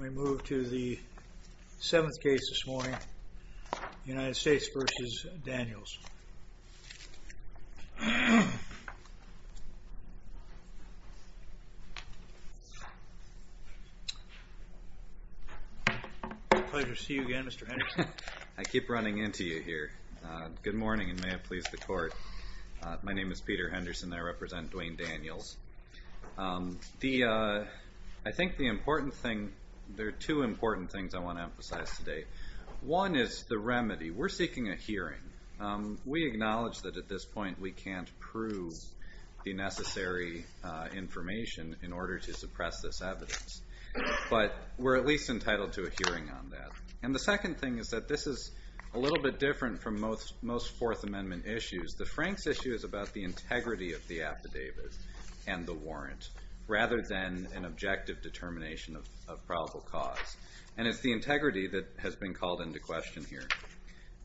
We move to the 7th case this morning, United States v. Daniels. Pleasure to see you again, Mr. Henderson. I keep running into you here. Good morning, and may it please the Court. My name is Peter Henderson, and I represent Dwayne Daniels. I think there are two important things I want to emphasize today. One is the remedy. We're seeking a hearing. We acknowledge that at this point we can't prove the necessary information in order to suppress this evidence, but we're at least entitled to a hearing on that. And the second thing is that this is a little bit different from most Fourth Amendment issues. The Franks issue is about the integrity of the affidavit and the warrant, rather than an objective determination of probable cause. And it's the integrity that has been called into question here.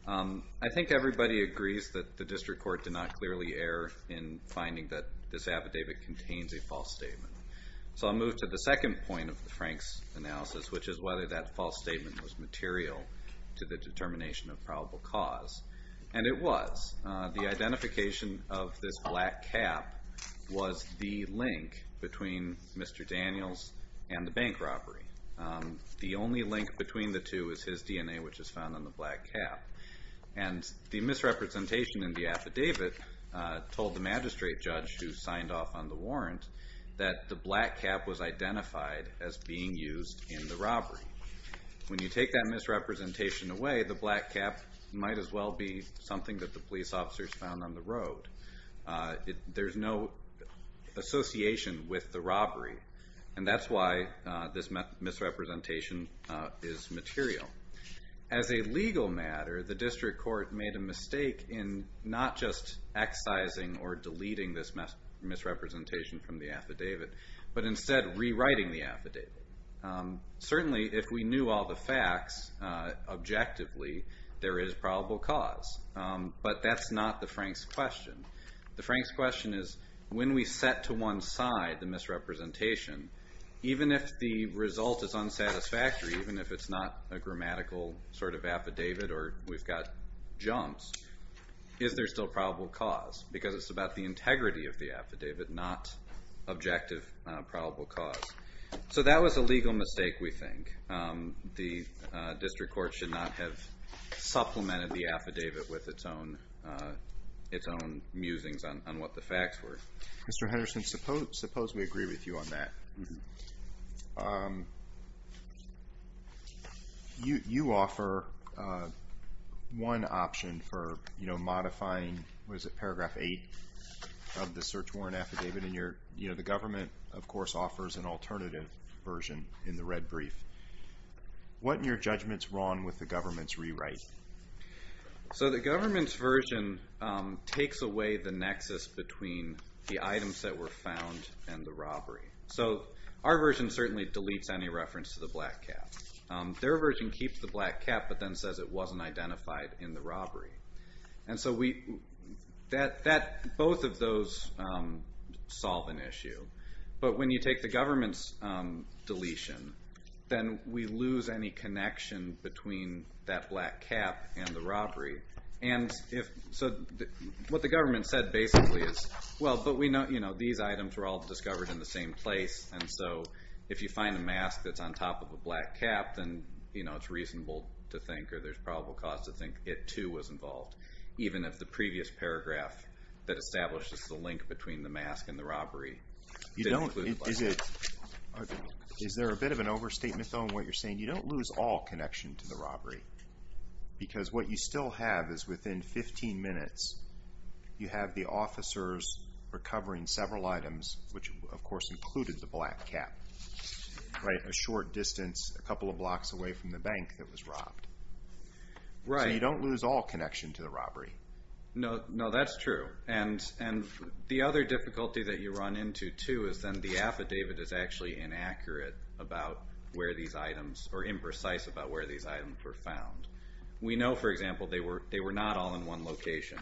I think everybody agrees that the District Court did not clearly err in finding that this affidavit contains a false statement. So I'll move to the second point of the Franks analysis, which is whether that false statement was material to the determination of probable cause. And it was. The identification of this black cap was the link between Mr. Daniels and the bank robbery. The only link between the two is his DNA, which is found on the black cap. And the misrepresentation in the affidavit told the magistrate judge who signed off on the warrant that the black cap was identified as being used in the robbery. When you take that misrepresentation away, the black cap might as well be something that the police officers found on the road. There's no association with the robbery. And that's why this misrepresentation is material. As a legal matter, the District Court made a mistake in not just excising or deleting this misrepresentation from the affidavit, but instead rewriting the affidavit. Certainly, if we knew all the facts objectively, there is probable cause. But that's not the Franks question. The Franks question is, when we set to one side the misrepresentation, even if the result is unsatisfactory, even if it's not a grammatical sort of affidavit or we've got jumps, is there still probable cause? Because it's about the integrity of the affidavit, not objective probable cause. So that was a legal mistake, we think. The District Court should not have supplemented the affidavit with its own musings on what the facts were. Mr. Henderson, suppose we agree with you on that. You offer one option for modifying Paragraph 8 of the search warrant affidavit. The government, of course, offers an alternative version in the red brief. What in your judgment is wrong with the government's rewrite? So the government's version takes away the nexus between the items that were found and the robbery. So our version certainly deletes any reference to the black cap. Their version keeps the black cap but then says it wasn't identified in the robbery. And so both of those solve an issue. But when you take the government's deletion, then we lose any connection between that black cap and the robbery. And so what the government said basically is, well, but these items were all discovered in the same place, and so if you find a mask that's on top of a black cap, then it's reasonable to think it, too, was involved, even if the previous paragraph that establishes the link between the mask and the robbery didn't include the black cap. Is there a bit of an overstatement, though, in what you're saying? You don't lose all connection to the robbery because what you still have is within 15 minutes you have the officers recovering several items, which, of course, included the black cap, a short distance, a couple of blocks away from the bank that was robbed. Right. So you don't lose all connection to the robbery. No, that's true. And the other difficulty that you run into, too, is then the affidavit is actually inaccurate about where these items or imprecise about where these items were found. We know, for example, they were not all in one location.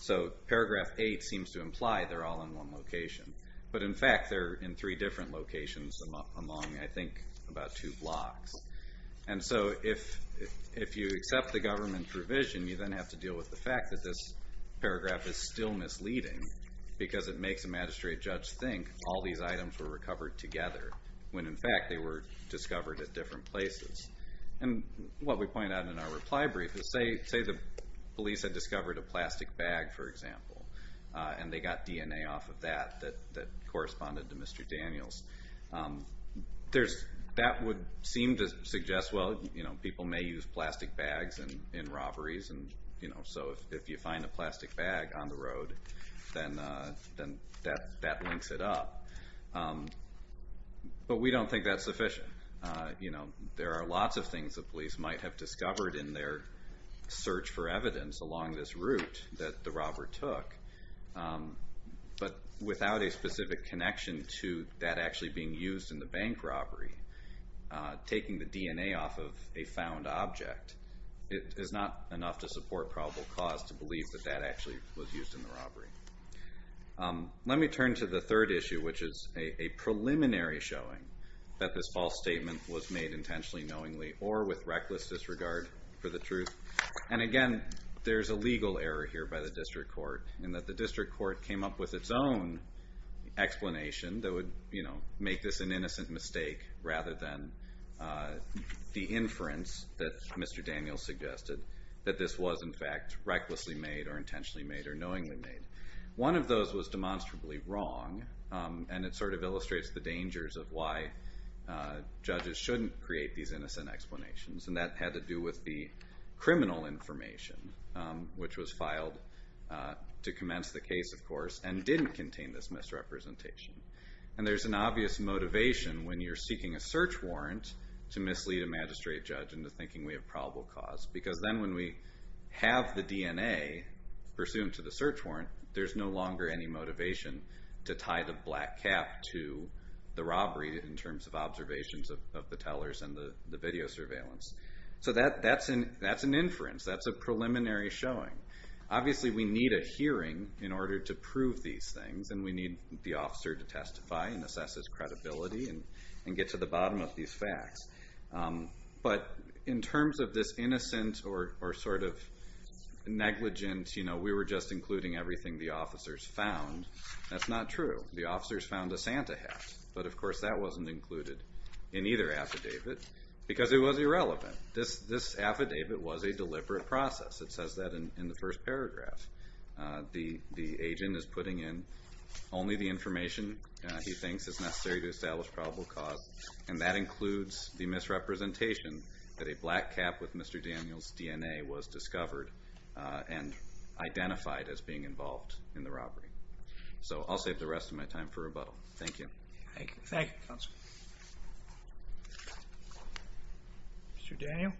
So paragraph 8 seems to imply they're all in one location. But, in fact, they're in three different locations among, I think, about two blocks. And so if you accept the government provision, you then have to deal with the fact that this paragraph is still misleading because it makes a magistrate judge think all these items were recovered together, when, in fact, they were discovered at different places. And what we point out in our reply brief is say the police had discovered a plastic bag, for example, and they got DNA off of that that corresponded to Mr. Daniels. That would seem to suggest, well, people may use plastic bags in robberies, and so if you find a plastic bag on the road, then that links it up. But we don't think that's sufficient. There are lots of things the police might have discovered in their search for evidence along this route that the robber took. But without a specific connection to that actually being used in the bank robbery, taking the DNA off of a found object is not enough to support probable cause to believe that that actually was used in the robbery. Let me turn to the third issue, which is a preliminary showing that this false statement was made intentionally, knowingly, or with reckless disregard for the truth. And, again, there's a legal error here by the district court in that the district court came up with its own explanation that would make this an innocent mistake rather than the inference that Mr. Daniels suggested that this was, in fact, recklessly made or intentionally made or knowingly made. One of those was demonstrably wrong, and it sort of illustrates the dangers of why judges shouldn't create these innocent explanations, and that had to do with the criminal information, which was filed to commence the case, of course, and didn't contain this misrepresentation. And there's an obvious motivation when you're seeking a search warrant to mislead a magistrate judge into thinking we have probable cause, because then when we have the DNA pursuant to the search warrant, there's no longer any motivation to tie the black cap to the robbery in terms of observations of the tellers and the video surveillance. So that's an inference. That's a preliminary showing. Obviously, we need a hearing in order to prove these things, and we need the officer to testify and assess his credibility and get to the bottom of these facts. But in terms of this innocent or sort of negligent, you know, we were just including everything the officers found, that's not true. The officers found a Santa hat, but, of course, that wasn't included in either affidavit because it was irrelevant. This affidavit was a deliberate process. It says that in the first paragraph. The agent is putting in only the information he thinks is necessary to establish probable cause, and that includes the misrepresentation that a black cap with Mr. Daniels' DNA was discovered and identified as being involved in the robbery. So I'll save the rest of my time for rebuttal. Thank you. Thank you. Thank you, Counselor. Mr. Daniel.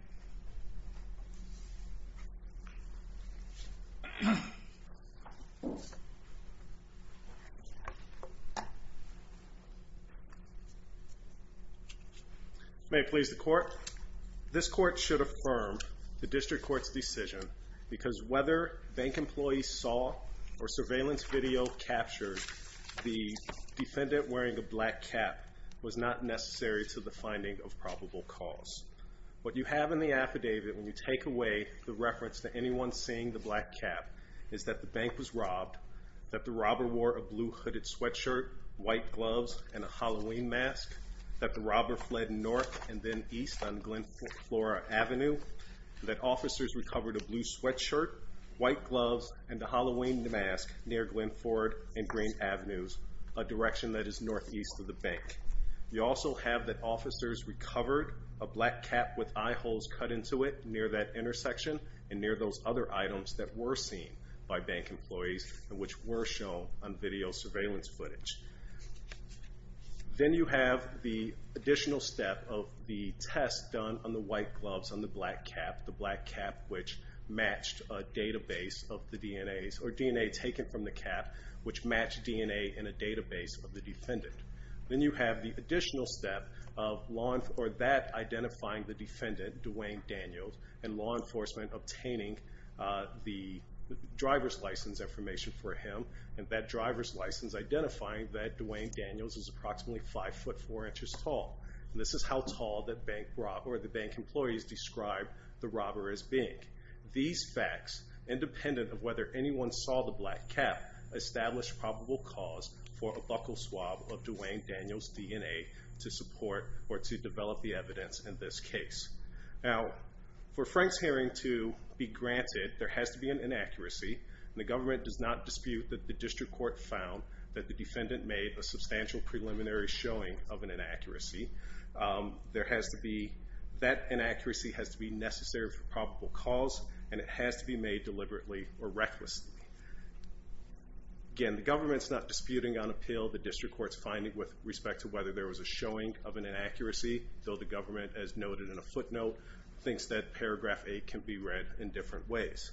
May it please the Court. This Court should affirm the District Court's decision because whether bank employees saw or surveillance video captured the defendant wearing a black cap was not necessary to the finding of probable cause. What you have in the affidavit when you take away the reference to anyone seeing the black cap is that the bank was robbed, that the robber wore a blue hooded sweatshirt, white gloves, and a Halloween mask, that the robber fled north and then east on Glen Flora Avenue, that officers recovered a blue sweatshirt, white gloves, and a Halloween mask near Glen Ford and Green Avenues, a direction that is northeast of the bank. You also have that officers recovered a black cap with eye holes cut into it near that intersection and near those other items that were seen by bank employees and which were shown on video surveillance footage. Then you have the additional step of the test done on the white gloves, on the black cap, the black cap which matched a database of the DNAs or DNA taken from the cap which matched DNA in a database of the defendant. Then you have the additional step of that identifying the defendant, Dwayne Daniels, and law enforcement obtaining the driver's license information for him and that driver's license identifying that Dwayne Daniels is approximately 5 foot 4 inches tall. This is how tall the bank employees described the robber as being. These facts, independent of whether anyone saw the black cap, established probable cause for a buckle swab of Dwayne Daniels' DNA to support or to develop the evidence in this case. Now, for Frank's hearing to be granted, there has to be an inaccuracy. The government does not dispute that the district court found that the defendant made a substantial preliminary showing of an inaccuracy. That inaccuracy has to be necessary for probable cause and it has to be made deliberately or recklessly. Again, the government's not disputing on appeal. The district court's finding with respect to whether there was a showing of an inaccuracy, though the government, as noted in a footnote, thinks that paragraph 8 can be read in different ways.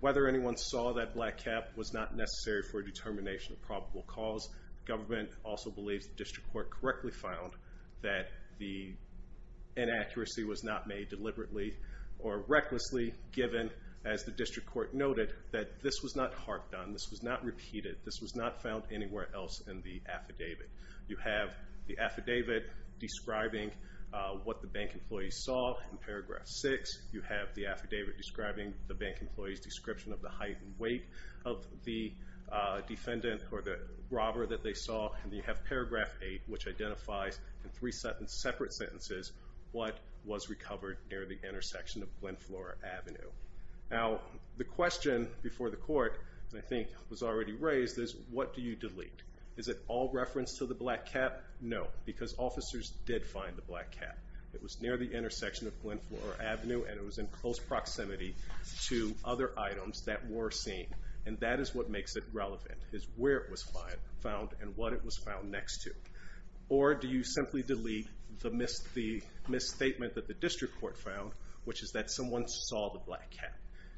Whether anyone saw that black cap was not necessary for a determination of probable cause. The government also believes the district court correctly found that the inaccuracy was not made deliberately or recklessly, given, as the district court noted, that this was not harked on, this was not repeated, this was not found anywhere else in the affidavit. You have the affidavit describing what the bank employees saw in paragraph 6. You have the affidavit describing the bank employee's description of the height and weight of the defendant or the robber that they saw. And you have paragraph 8, which identifies in three separate sentences what was recovered near the intersection of Glen Flora Avenue. Now, the question before the court, I think was already raised, is what do you delete? Is it all reference to the black cap? No, because officers did find the black cap. It was near the intersection of Glen Flora Avenue, and it was in close proximity to other items that were seen, and that is what makes it relevant, is where it was found and what it was found next to. Or do you simply delete the misstatement that the district court found, which is that someone saw the black cap?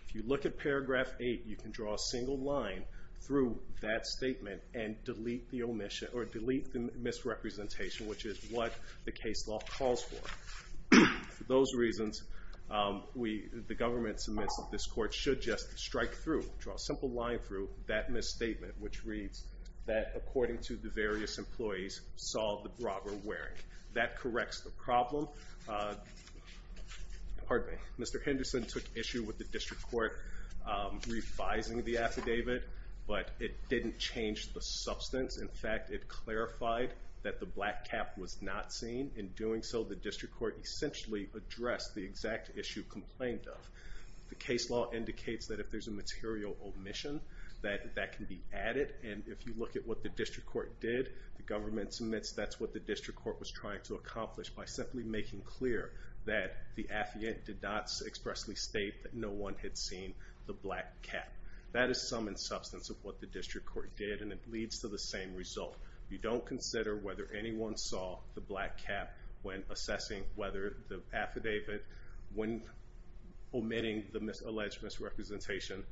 If you look at paragraph 8, you can draw a single line through that statement and delete the omission or delete the misrepresentation, which is what the case law calls for. For those reasons, the government submits that this court should just strike through, draw a simple line through that misstatement, which reads that, according to the various employees, saw the robber wearing. That corrects the problem. Mr. Henderson took issue with the district court revising the affidavit, but it didn't change the substance. In fact, it clarified that the black cap was not seen. In doing so, the district court essentially addressed the exact issue complained of. The case law indicates that if there's a material omission, that that can be added, and if you look at what the district court did, the government submits that's what the district court was trying to accomplish by simply making clear that the affidavit did not expressly state that no one had seen the black cap. That is some in substance of what the district court did, and it leads to the same result. You don't consider whether anyone saw the black cap when assessing whether the affidavit, when omitting the alleged misrepresentation,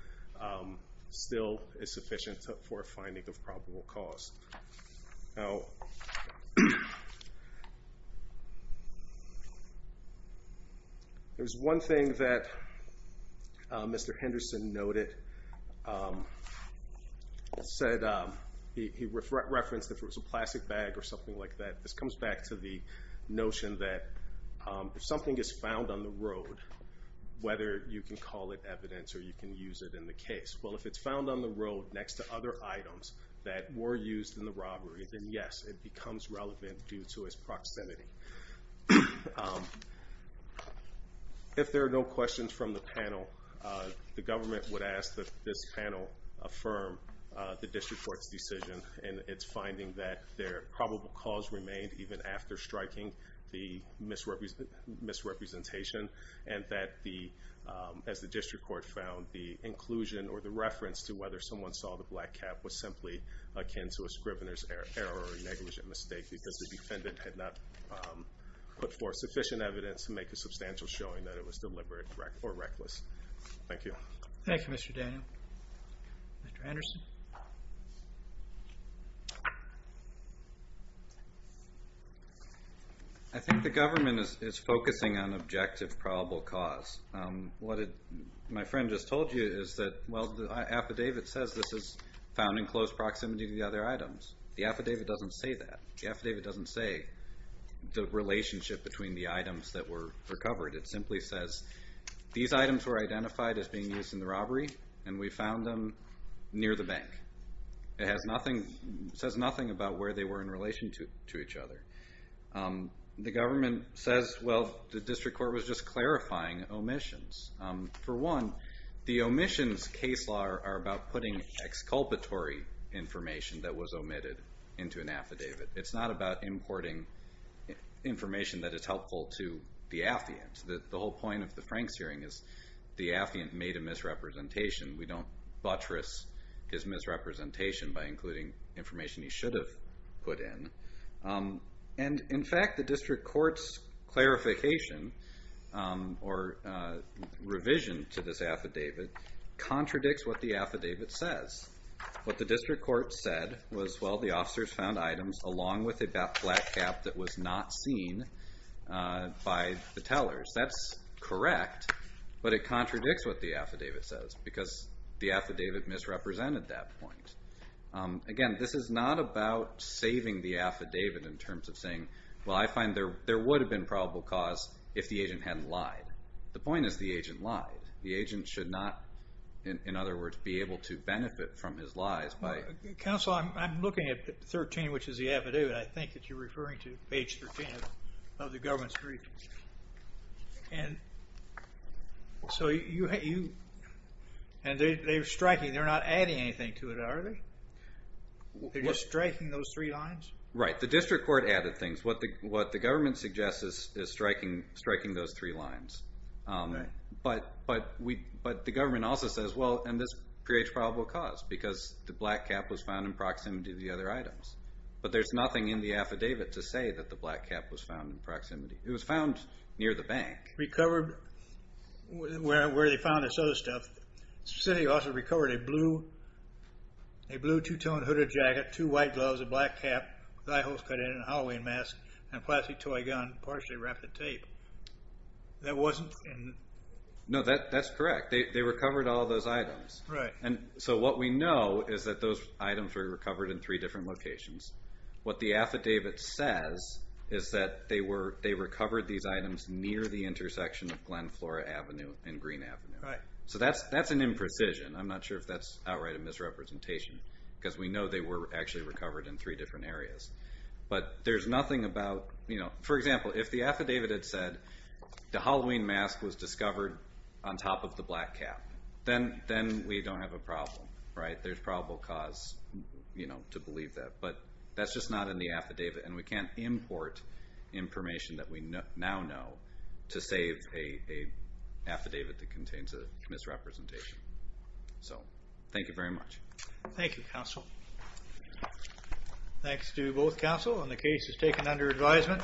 still is sufficient for a finding of probable cause. Now, there's one thing that Mr. Henderson noted. He referenced if it was a plastic bag or something like that. This comes back to the notion that if something is found on the road, whether you can call it evidence or you can use it in the case. Well, if it's found on the road next to other items that were used in the robbery, then, yes, it becomes relevant due to its proximity. If there are no questions from the panel, the government would ask that this panel affirm the district court's decision in its finding that their probable cause remained even after striking the misrepresentation, and that, as the district court found, the inclusion or the reference to whether someone saw the black cap was simply akin to a scrivener's error or negligent mistake because the defendant had not put forth sufficient evidence to make a substantial showing that it was deliberate or reckless. Thank you. Thank you, Mr. Daniel. Mr. Anderson? I think the government is focusing on objective probable cause. What my friend just told you is that, well, the affidavit says this is found in close proximity to the other items. The affidavit doesn't say that. The affidavit doesn't say the relationship between the items that were recovered. It simply says these items were identified as being used in the robbery, and we found them near the bank. It says nothing about where they were in relation to each other. The government says, well, the district court was just clarifying omissions. For one, the omissions case law are about putting exculpatory information that was omitted into an affidavit. It's not about importing information that is helpful to the affiant. The whole point of the Franks hearing is the affiant made a misrepresentation. We don't buttress his misrepresentation by including information he should have put in. In fact, the district court's clarification or revision to this affidavit contradicts what the affidavit says. What the district court said was, well, the officers found items, along with a black cap, that was not seen by the tellers. That's correct, but it contradicts what the affidavit says because the affidavit misrepresented that point. Again, this is not about saving the affidavit in terms of saying, well, I find there would have been probable cause if the agent hadn't lied. The point is the agent lied. The agent should not, in other words, be able to benefit from his lies. Counsel, I'm looking at 13, which is the affidavit. I think that you're referring to page 13 of the government's briefings. They're striking. They're not adding anything to it, are they? They're just striking those three lines? Right. The district court added things. What the government suggests is striking those three lines. But the government also says, well, and this creates probable cause because the black cap was found in proximity to the other items. But there's nothing in the affidavit to say that the black cap was found in proximity. It was found near the bank. Recovered where they found this other stuff. The city officer recovered a blue two-tone hooded jacket, two white gloves, a black cap, eye holes cut in, a Halloween mask, and a plastic toy gun partially wrapped in tape. That wasn't in? No, that's correct. They recovered all those items. Right. So what we know is that those items were recovered in three different locations. What the affidavit says is that they recovered these items near the intersection of Glen Flora Avenue and Green Avenue. Right. So that's an imprecision. I'm not sure if that's outright a misrepresentation because we know they were actually recovered in three different areas. But there's nothing about, you know, for example, if the affidavit had said the Halloween mask was discovered on top of the black cap, then we don't have a problem. Right? There's probable cause, you know, to believe that. But that's just not in the affidavit, and we can't import information that we now know to save an affidavit that contains a misrepresentation. So thank you very much. Thank you, counsel. Thanks to both counsel, and the case is taken under advisement.